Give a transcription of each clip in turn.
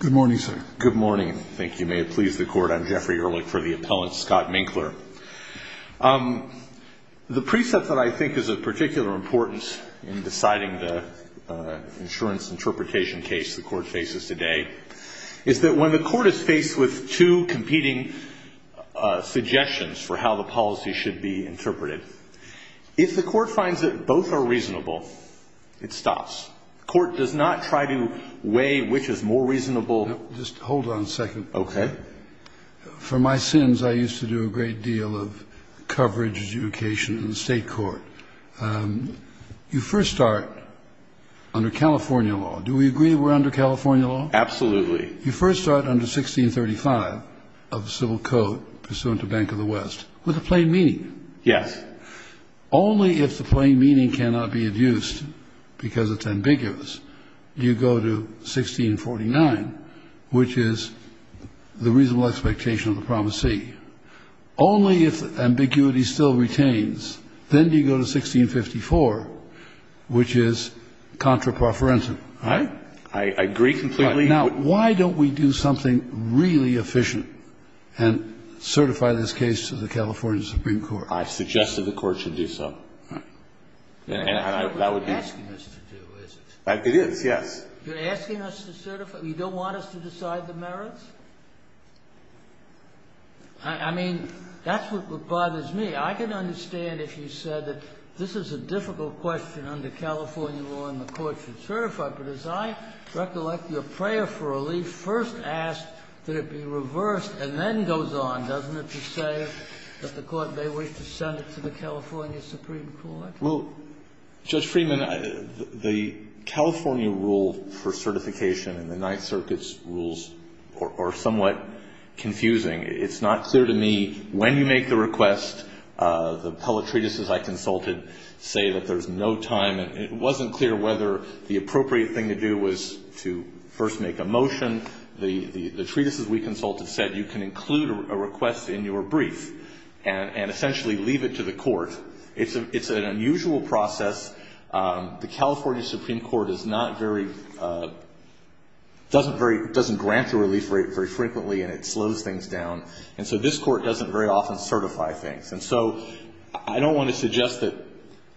Good morning, sir. Good morning. Thank you. May it please the Court. I'm Jeffrey Ehrlich for the appellant, Scott Minkler. The precept that I think is of particular importance in deciding the insurance interpretation case the Court faces today is that when the Court is faced with two competing suggestions for how the policy should be interpreted, if the Court finds that both are reasonable, it stops. The Court does not try to weigh which is more reasonable. Just hold on a second. Okay. For my sins, I used to do a great deal of coverage, adjudication in the state court. You first start under California law. Do we agree we're under California law? Absolutely. You first start under 1635 of the Civil Code, pursuant to Bank of the West, with a plain meaning. Yes. Only if the plain meaning cannot be adduced, because it's ambiguous, do you go to 1649, which is the reasonable expectation of the promisee. Only if ambiguity still retains, then do you go to 1654, which is contra pro forensic. Right? I agree completely. Now, why don't we do something really efficient and certify this case to the California Supreme Court? I suggest that the Court should do so. And that would be ---- That's not what you're asking us to do, is it? It is, yes. You're asking us to certify? You don't want us to decide the merits? I mean, that's what bothers me. I can understand if you said that this is a difficult question under California law and the Court should certify. But as I recollect, your prayer for relief first asked that it be reversed and then goes on, doesn't it, to say that the Court may wish to send it to the California Supreme Court? Well, Judge Friedman, the California rule for certification and the Ninth Circuit's rules are somewhat confusing. It's not clear to me when you make the request. The appellate treatises I consulted say that there's no time. It wasn't clear whether the appropriate thing to do was to first make a motion. The treatises we consulted said you can include a request in your brief and essentially leave it to the Court. It's an unusual process. The California Supreme Court is not very ---- doesn't grant a relief rate very frequently and it slows things down. And so this Court doesn't very often certify things. And so I don't want to suggest that ----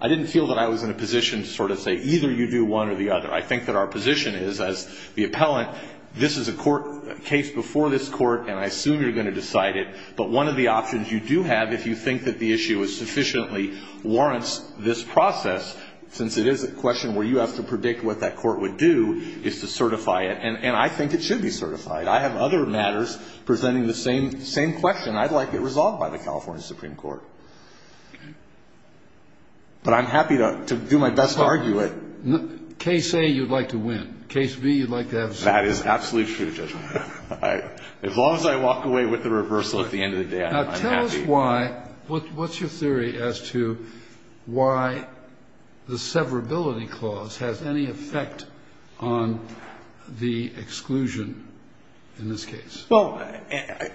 I didn't feel that I was in a position to sort of say either you do one or the other. I think that our position is, as the appellant, this is a court case before this court and I assume you're going to decide it. But one of the options you do have if you think that the issue sufficiently warrants this process, since it is a question where you have to predict what that court would do, is to certify it. And I think it should be certified. I have other matters presenting the same question. I'd like it resolved by the California Supreme Court. But I'm happy to do my best to argue it. Case A, you'd like to win. Case B, you'd like to have a solution. That is absolutely true, Judge. As long as I walk away with the reversal at the end of the day, I'm happy. Now, tell us why ---- what's your theory as to why the severability clause has any effect on the exclusion in this case? Well,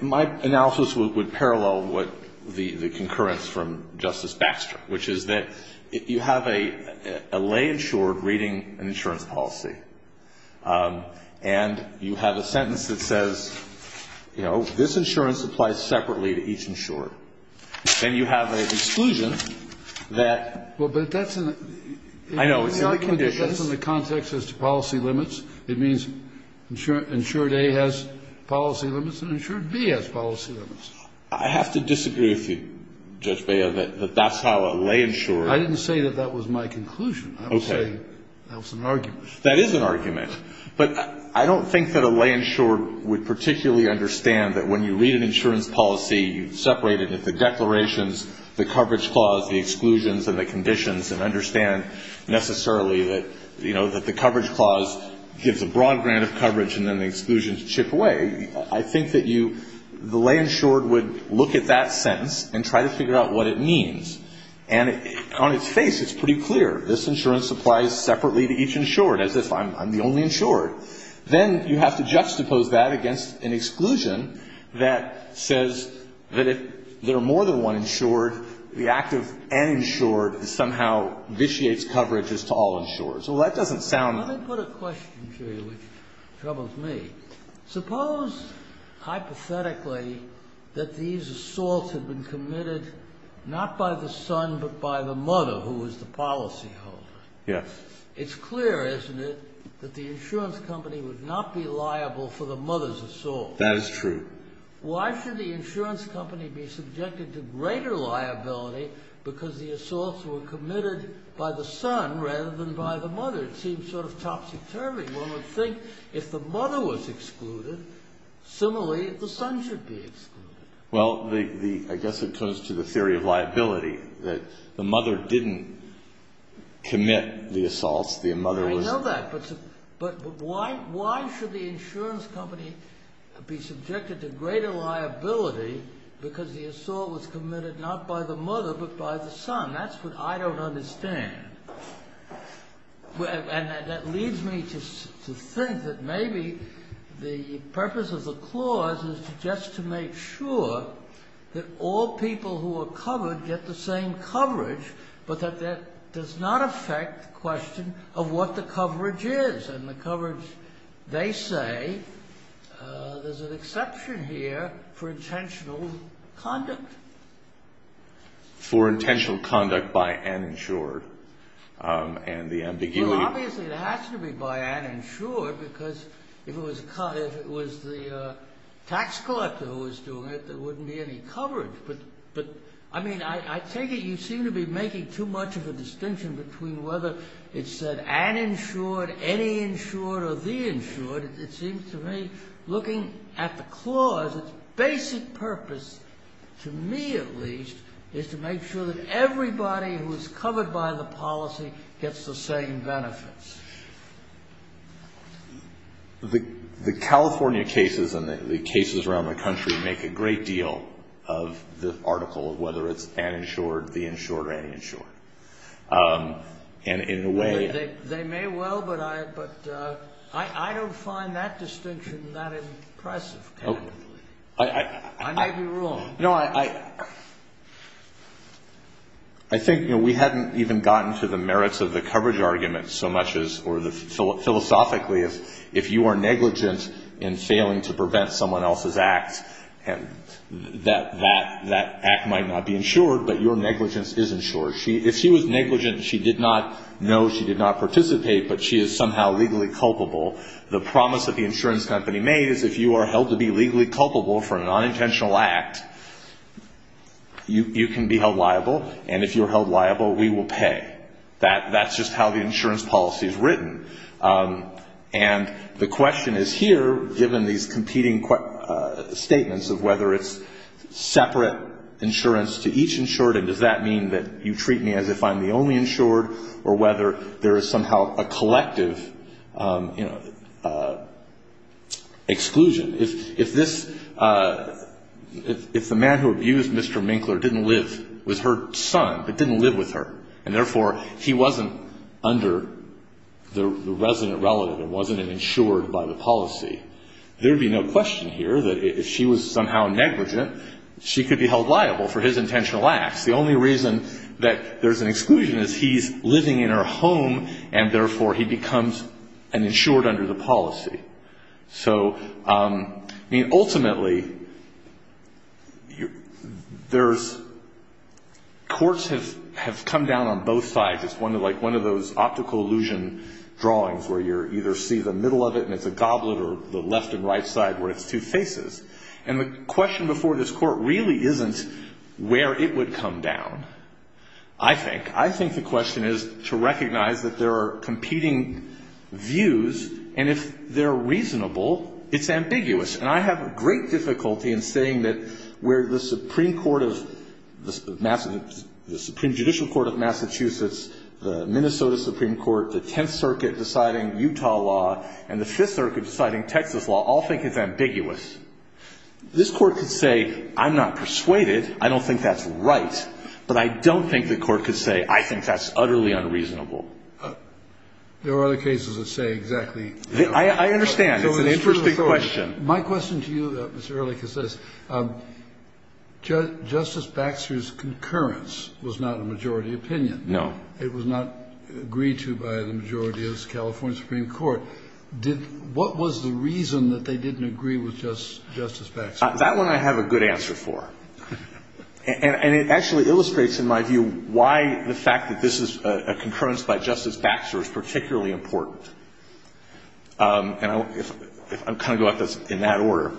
my analysis would parallel what the concurrence from Justice Baxter, which is that if you have a lay insured reading an insurance policy and you have a sentence that says, you know, this insurance applies separately to each insured, then you have an exclusion that ---- I know. If it says it has access to policy limits, it means insured A has policy limits and insured B has policy limits. I have to disagree with you, Judge Bayer, that that's how a lay insured ---- I didn't say that that was my conclusion. Okay. I would say that was an argument. That is an argument. But I don't think that a lay insured would particularly understand that when you read an insurance policy, you separate it at the declarations, the coverage clause, the exclusions and the conditions, and understand necessarily that, you know, that the coverage clause gives a broad grant of coverage and then the exclusions chip away. I think that you ---- the lay insured would look at that sentence and try to figure out what it means. And on its face, it's pretty clear. This insurance applies separately to each insured, as if I'm the only insured. Then you have to juxtapose that against an exclusion that says that if there are more than one insured, the active and insured somehow vitiates coverage as to all insurers. Well, that doesn't sound ---- Let me put a question to you which troubles me. Suppose, hypothetically, that these assaults had been committed not by the son but by the mother, who was the policyholder. Yes. It's clear, isn't it, that the insurance company would not be liable for the mother's assault. That is true. Why should the insurance company be subjected to greater liability because the assaults were committed by the son rather than by the mother? It seems sort of topsy-turvy. One would think if the mother was excluded, similarly, the son should be excluded. Well, I guess it goes to the theory of liability, that the mother didn't commit the assaults. The mother was ---- I know that, but why should the insurance company be subjected to greater liability because the assault was committed not by the mother but by the son? That's what I don't understand. And that leads me to think that maybe the purpose of the clause is just to make sure that all people who are covered get the same coverage, but that that does not affect the question of what the coverage is. And the coverage, they say, there's an exception here for intentional conduct. For intentional conduct by uninsured and the ambiguity. Well, obviously, it has to be by uninsured because if it was the tax collector who was doing it, there wouldn't be any coverage. But, I mean, I take it you seem to be making too much of a distinction between whether it said uninsured, any insured, or the insured. It seems to me, looking at the clause, its basic purpose, to me at least, is to make sure that everybody who is covered by the policy gets the same benefits. The California cases and the cases around the country make a great deal of the article of whether it's uninsured, the insured, or uninsured. And in a way they may well, but I don't find that distinction that impressive. I may be wrong. No, I think we haven't even gotten to the merits of the coverage argument so much as or philosophically, if you are negligent in failing to prevent someone else's act, that act might not be insured, but your negligence is insured. If she was negligent, she did not know, she did not participate, but she is somehow legally culpable. The promise that the insurance company made is if you are held to be legally culpable for a non-intentional act, you can be held liable, and if you're held liable, we will pay. That's just how the insurance policy is written. And the question is here, given these competing statements of whether it's separate insurance to each insured, and does that mean that you treat me as if I'm the only insured, or whether there is somehow a collective exclusion. If the man who abused Mr. Minkler didn't live with her son, but didn't live with her, and therefore he wasn't under the resident relative and wasn't insured by the policy, there would be no question here that if she was somehow negligent, she could be held liable for his intentional acts. The only reason that there's an exclusion is he's living in her home, and therefore he becomes an insured under the policy. So, ultimately, courts have come down on both sides. It's like one of those optical illusion drawings where you either see the middle of it and it's a goblet or the left and right side where it's two faces. And the question before this court really isn't where it would come down, I think. I think the question is to recognize that there are competing views, and if they're reasonable, it's ambiguous. And I have great difficulty in saying that where the Supreme Court of Massachusetts, the Supreme Judicial Court of Massachusetts, the Minnesota Supreme Court, the Tenth Circuit deciding Utah law, and the Fifth Circuit deciding Texas law, all think it's ambiguous. This court could say, I'm not persuaded, I don't think that's right, but I don't think the court could say, I think that's utterly unreasonable. There are other cases that say exactly that. I understand. It's an interesting question. My question to you, Mr. Ehrlich, is this. Justice Baxter's concurrence was not a majority opinion. No. It was not agreed to by the majority of the California Supreme Court. What was the reason that they didn't agree with Justice Baxter? That one I have a good answer for. And it actually illustrates, in my view, why the fact that this is a concurrence by Justice Baxter is particularly important. And if I'm going to go in that order,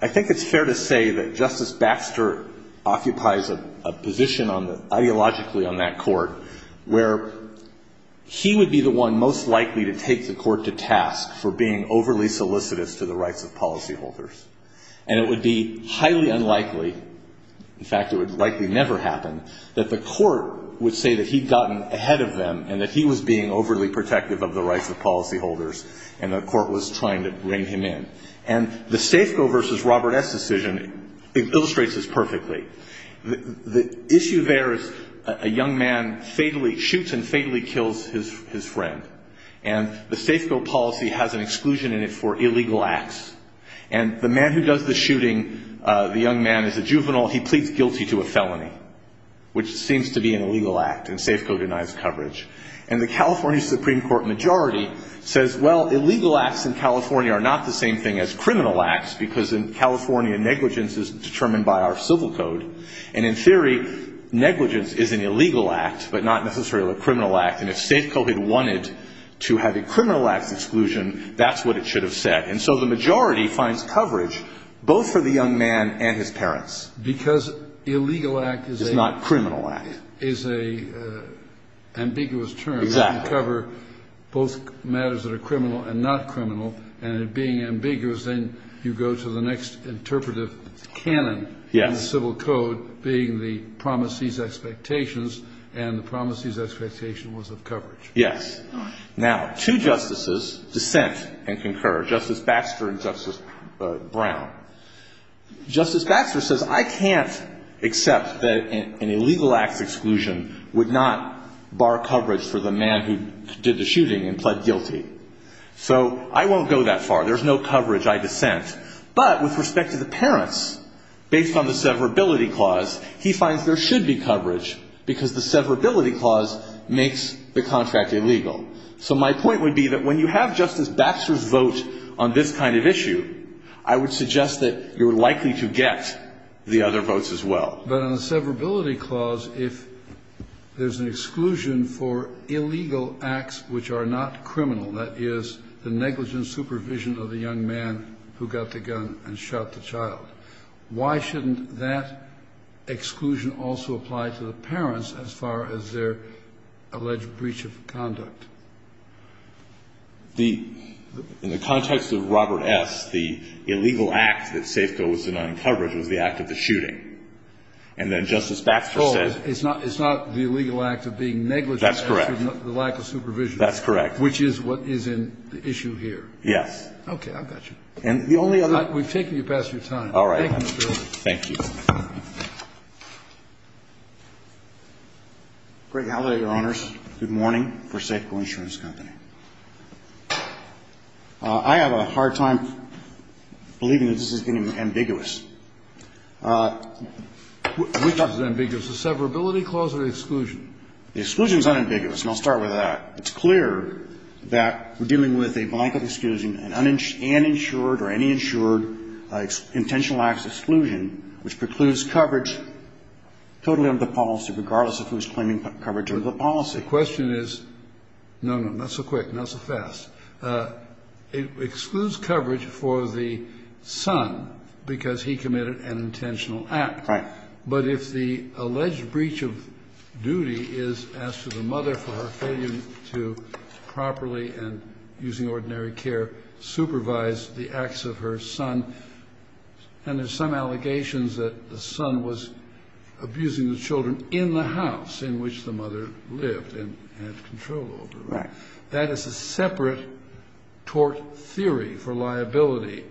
I think it's fair to say that Justice Baxter occupies a position ideologically on that court where he would be the one most likely to take the court to task for being overly solicitous to the rights of policyholders. And it would be highly unlikely, in fact, it would likely never happen, that the court would say that he'd gotten ahead of them and that he was being overly protective of the rights of policyholders and the court was trying to bring him in. And the Safeco v. Robert S. decision illustrates this perfectly. The issue there is a young man shoots and fatally kills his friend. And the Safeco policy has an exclusion in it for illegal acts. And the man who does the shooting, the young man, is a juvenile. He pleads guilty to a felony, which seems to be an illegal act, and Safeco denies coverage. And the California Supreme Court majority says, well, illegal acts in California are not the same thing as criminal acts because in California negligence is determined by our civil code. And in theory, negligence is an illegal act but not necessarily a criminal act. And if Safeco had wanted to have a criminal acts exclusion, that's what it should have said. And so the majority finds coverage both for the young man and his parents. Because illegal act is a – Is not criminal act. Is a ambiguous term. Exactly. That would cover both matters that are criminal and not criminal. And it being ambiguous, then you go to the next interpretive canon. Yes. In civil code being the promisee's expectations and the promisee's expectation was of coverage. Yes. Now, two justices dissent and concur. Justice Baxter and Justice Brown. Justice Baxter says I can't accept that an illegal acts exclusion would not bar coverage for the man who did the shooting and pled guilty. So I won't go that far. There's no coverage. I dissent. But with respect to the parents, based on the severability clause, he finds there should be coverage because the severability clause makes the contract illegal. So my point would be that when you have Justice Baxter's vote on this kind of issue, I would suggest that you're likely to get the other votes as well. But on the severability clause, if there's an exclusion for illegal acts which are not criminal, that is the negligent supervision of the young man who got the gun and shot the child, why shouldn't that exclusion also apply to the parents as far as their alleged breach of conduct? In the context of Robert S., the illegal act that Safeco was denying coverage was the act of the shooting. And then Justice Baxter said. Oh, it's not the illegal act of being negligent. That's correct. The lack of supervision. That's correct. Which is what is in the issue here. Yes. Okay. I got you. And the only other. We've taken you past your time. All right. Thank you. Great holiday, Your Honors. Good morning for Safeco Insurance Company. I have a hard time believing that this is getting ambiguous. What is ambiguous? The severability clause or the exclusion? The exclusion is unambiguous, and I'll start with that. It's clear that we're dealing with a blanket exclusion, an uninsured or any insured intentional acts exclusion, which precludes coverage totally under the policy, regardless of who's claiming coverage under the policy. The question is no, no, not so quick, not so fast. It excludes coverage for the son because he committed an intentional act. Right. But if the alleged breach of duty is as to the mother for her failure to properly and using ordinary care supervise the acts of her son, and there's some allegations that the son was abusing the children in the house in which the mother lived and had control over. Right. That is a separate tort theory for liability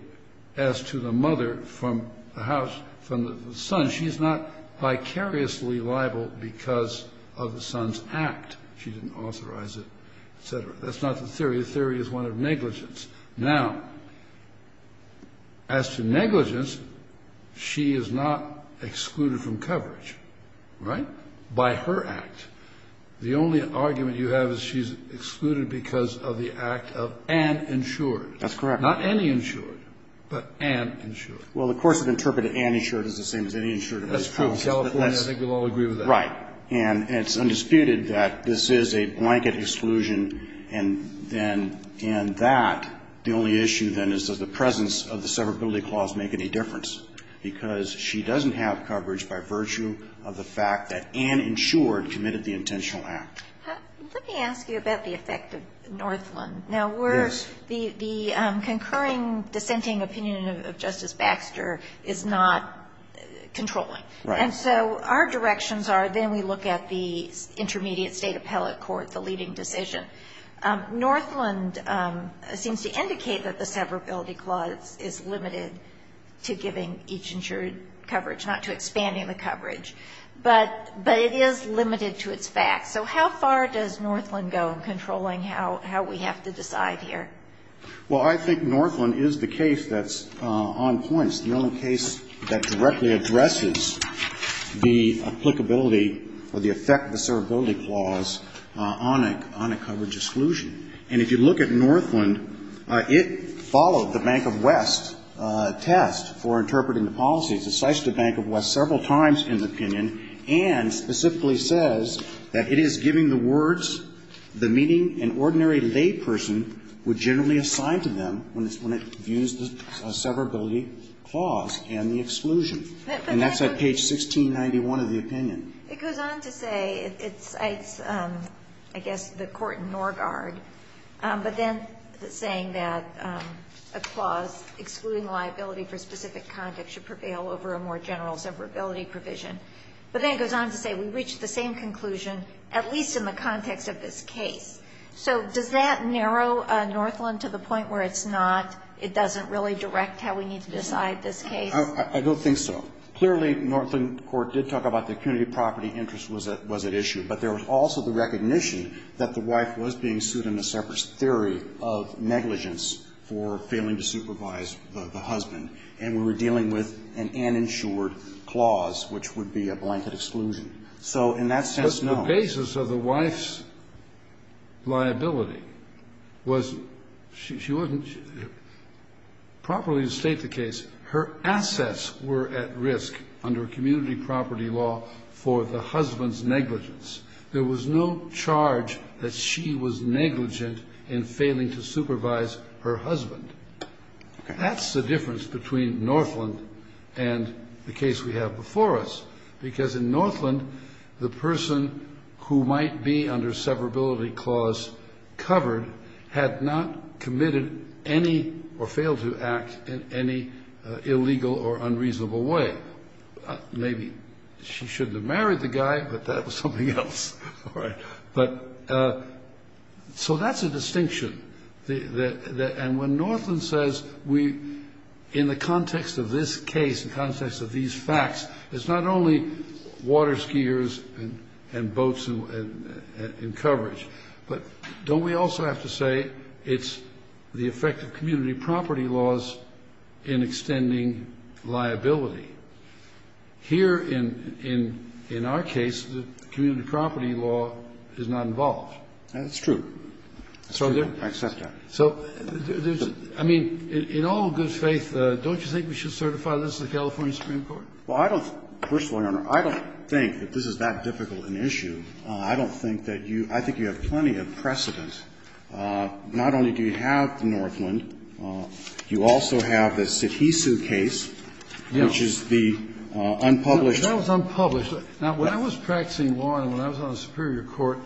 as to the mother from the son. She's not vicariously liable because of the son's act. She didn't authorize it, et cetera. That's not the theory. The theory is one of negligence. Now, as to negligence, she is not excluded from coverage. Right? By her act. The only argument you have is she's excluded because of the act of an insured. That's correct. Not any insured, but an insured. Well, the courts have interpreted an insured as the same as any insured. That's true in California. I think we'll all agree with that. Right. And it's undisputed that this is a blanket exclusion, and then that, the only issue then is does the presence of the severability clause make any difference, because she doesn't have coverage by virtue of the fact that an insured committed the intentional Let me ask you about the effect of Northland. Yes. The concurring dissenting opinion of Justice Baxter is not controlling. Right. And so our directions are then we look at the intermediate State appellate court, the leading decision. Northland seems to indicate that the severability clause is limited to giving each insured coverage, not to expanding the coverage. But it is limited to its facts. So how far does Northland go in controlling how we have to decide here? Well, I think Northland is the case that's on points, the only case that directly addresses the applicability or the effect of the severability clause on a coverage exclusion. And if you look at Northland, it followed the Bank of West test for interpreting the policies. It cites the Bank of West several times in the opinion and specifically says that it is giving the words, the meaning, an ordinary lay person would generally assign to them when it views the severability clause and the exclusion. And that's at page 1691 of the opinion. It goes on to say, it cites, I guess, the court in Norgard, but then saying that a clause excluding liability for specific conduct should prevail over a more general severability provision. But then it goes on to say, we reach the same conclusion, at least in the context of this case. So does that narrow Northland to the point where it's not, it doesn't really direct how we need to decide this case? I don't think so. Clearly, Northland court did talk about the community property interest was at issue. But there was also the recognition that the wife was being sued in the separate theory of negligence for failing to supervise the husband. And we were dealing with an uninsured clause, which would be a blanket exclusion. So in that sense, no. But the basis of the wife's liability was, she wasn't, properly to state the case, her assets were at risk under community property law for the husband's negligence. There was no charge that she was negligent in failing to supervise her husband. Okay. That's the difference between Northland and the case we have before us. Because in Northland, the person who might be under severability clause covered had not committed any or failed to act in any illegal or unreasonable way. Maybe she shouldn't have married the guy, but that was something else. All right. But, so that's a distinction. And when Northland says we, in the context of this case, the context of these facts, it's not only water skiers and boats in coverage. But don't we also have to say it's the effect of community property laws in extending liability? Here, in our case, the community property law is not involved. That's true. That's true. I accept that. So there's, I mean, in all good faith, don't you think we should certify this to the California Supreme Court? Well, I don't, first of all, Your Honor, I don't think that this is that difficult an issue. I don't think that you, I think you have plenty of precedent. Not only do you have the Northland, you also have the Sithisu case, which is the unpublished. That was unpublished. Now, when I was practicing law and when I was on a superior court,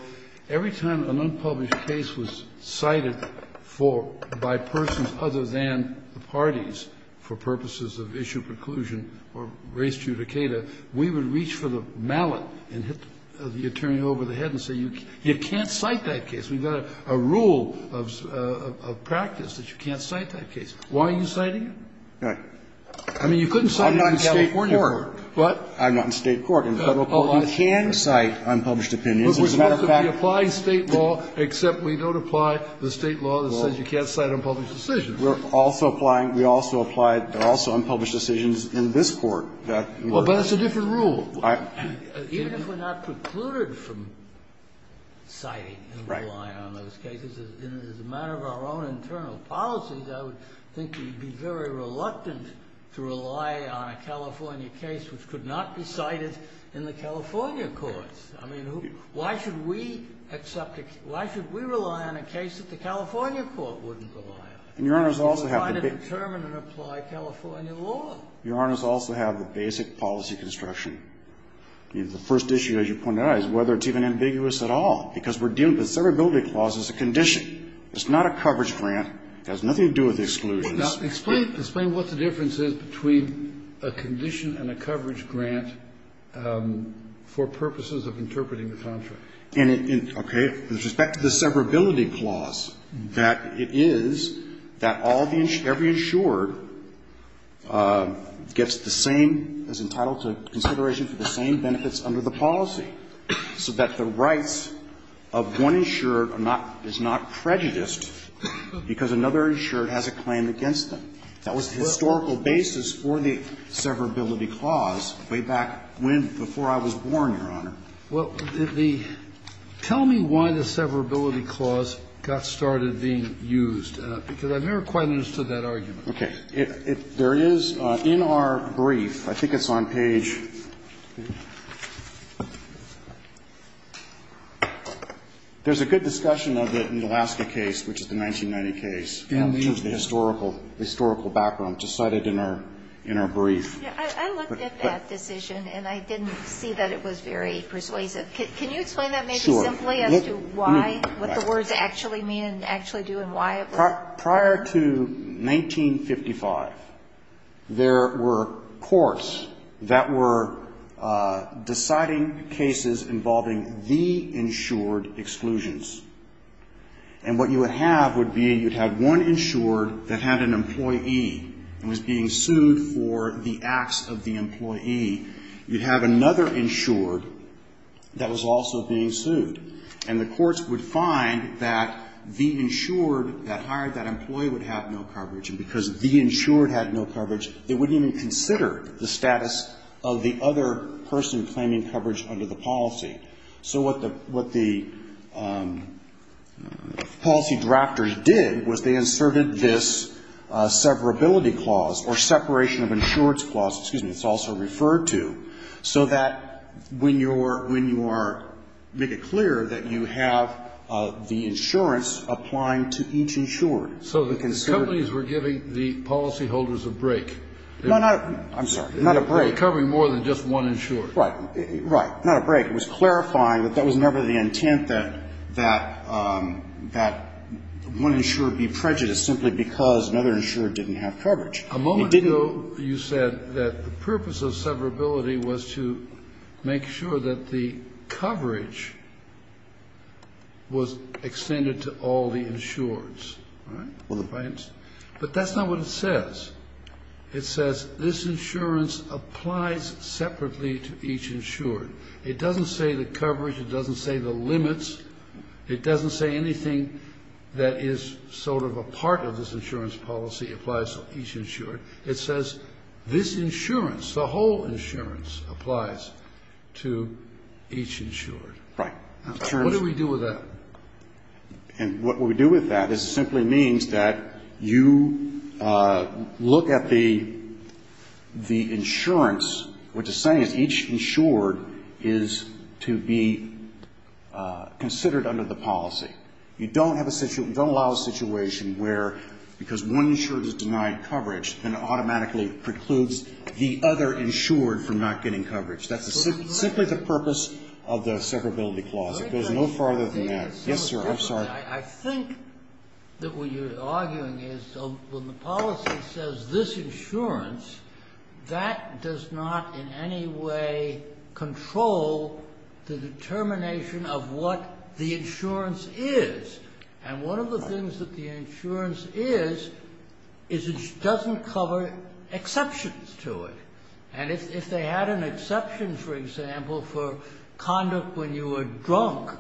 every time an unpublished case was cited for, by persons other than the parties for purposes of issue preclusion or res judicata, we would reach for the mallet and hit the attorney over the head and say you can't cite that case. We've got a rule of practice that you can't cite that case. Why are you citing it? I mean, you couldn't cite it in the California court. What? In the federal court, you can cite unpublished opinions. As a matter of fact We're supposed to be applying State law, except we don't apply the State law that says you can't cite unpublished decisions. We're also applying, we also apply also unpublished decisions in this court. Well, but it's a different rule. Even if we're not precluded from citing and relying on those cases, as a matter of our own internal policies, I would think we'd be very reluctant to rely on a California case which could not be cited in the California courts. I mean, why should we accept a, why should we rely on a case that the California court wouldn't rely on? We're trying to determine and apply California law. Your Honors, also have the basic policy construction. The first issue, as you pointed out, is whether it's even ambiguous at all, because we're dealing with a severability clause as a condition. It's not a coverage grant. It has nothing to do with exclusions. Now, explain, explain what the difference is between a condition and a coverage grant for purposes of interpreting the contract. And it, okay, with respect to the severability clause, that it is that all the, every insured gets the same, is entitled to consideration for the same benefits under the policy, so that the rights of one insured are not, is not prejudiced because another insured has a claim against them. That was the historical basis for the severability clause way back when, before I was born, Your Honor. Well, the, tell me why the severability clause got started being used, because I've never quite understood that argument. Okay. It, it, there is, in our brief, I think it's on page, there's a good discussion of it in the Alaska case, which is the 1990 case, in terms of the historical, historical background, just cited in our, in our brief. I looked at that decision, and I didn't see that it was very persuasive. Can you explain that maybe simply as to why, what the words actually mean and actually do and why it was? Prior to 1955, there were courts that were deciding cases involving the insured exclusions. And what you would have would be, you'd have one insured that had an employee and was being sued for the acts of the employee. You'd have another insured that was also being sued. And the courts would find that the insured that hired that employee would have no coverage. And because the insured had no coverage, they wouldn't even consider the status of the other person claiming coverage under the policy. So what the, what the policy drafters did was they inserted this severability clause, or separation of insurance clause, excuse me, it's also referred to, so that when you're, when you are, make it clear that you have the insurance applying to each insured. So the companies were giving the policyholders a break. No, not, I'm sorry, not a break. They were covering more than just one insured. Right. Not a break. It was clarifying that that was never the intent that, that, that one insured be prejudiced simply because another insured didn't have coverage. It didn't. A moment ago you said that the purpose of severability was to make sure that the coverage was extended to all the insureds. Right. Well, the. But that's not what it says. It says this insurance applies separately to each insured. It doesn't say the coverage. It doesn't say the limits. It doesn't say anything that is sort of a part of this insurance policy applies to each insured. It says this insurance, the whole insurance, applies to each insured. Right. What do we do with that? And what we do with that is it simply means that you look at the, the insurance, what it's saying is each insured is to be considered under the policy. You don't have a, don't allow a situation where, because one insured is denied coverage, then it automatically precludes the other insured from not getting coverage. That's simply the purpose of the severability clause. There's no further than that. Yes, sir. I'm sorry. I think that what you're arguing is when the policy says this insurance, that does not in any way control the determination of what the insurance is. And one of the things that the insurance is, is it doesn't cover exceptions to it. And if they had an exception, for example, for conduct when you were drunk,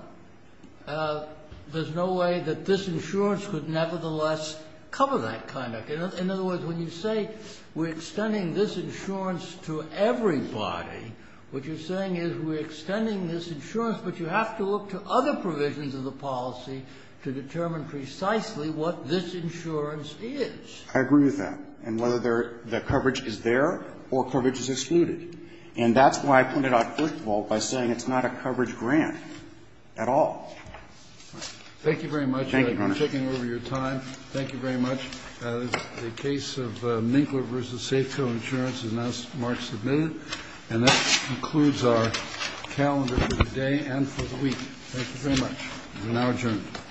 there's no way that this insurance would nevertheless cover that conduct. In other words, when you say we're extending this insurance to everybody, what you're saying is we're extending this insurance, but you have to look to other provisions of the policy to determine precisely what this insurance is. I agree with that. And whether the coverage is there or coverage is excluded. And that's why I put it out first of all by saying it's not a coverage grant at all. Thank you very much. Thank you, Your Honor. I'm taking over your time. Thank you very much. The case of Minkler v. Safeco Insurance is now marked as admitted. And that concludes our calendar for today and for the week. Thank you very much. We're now adjourned.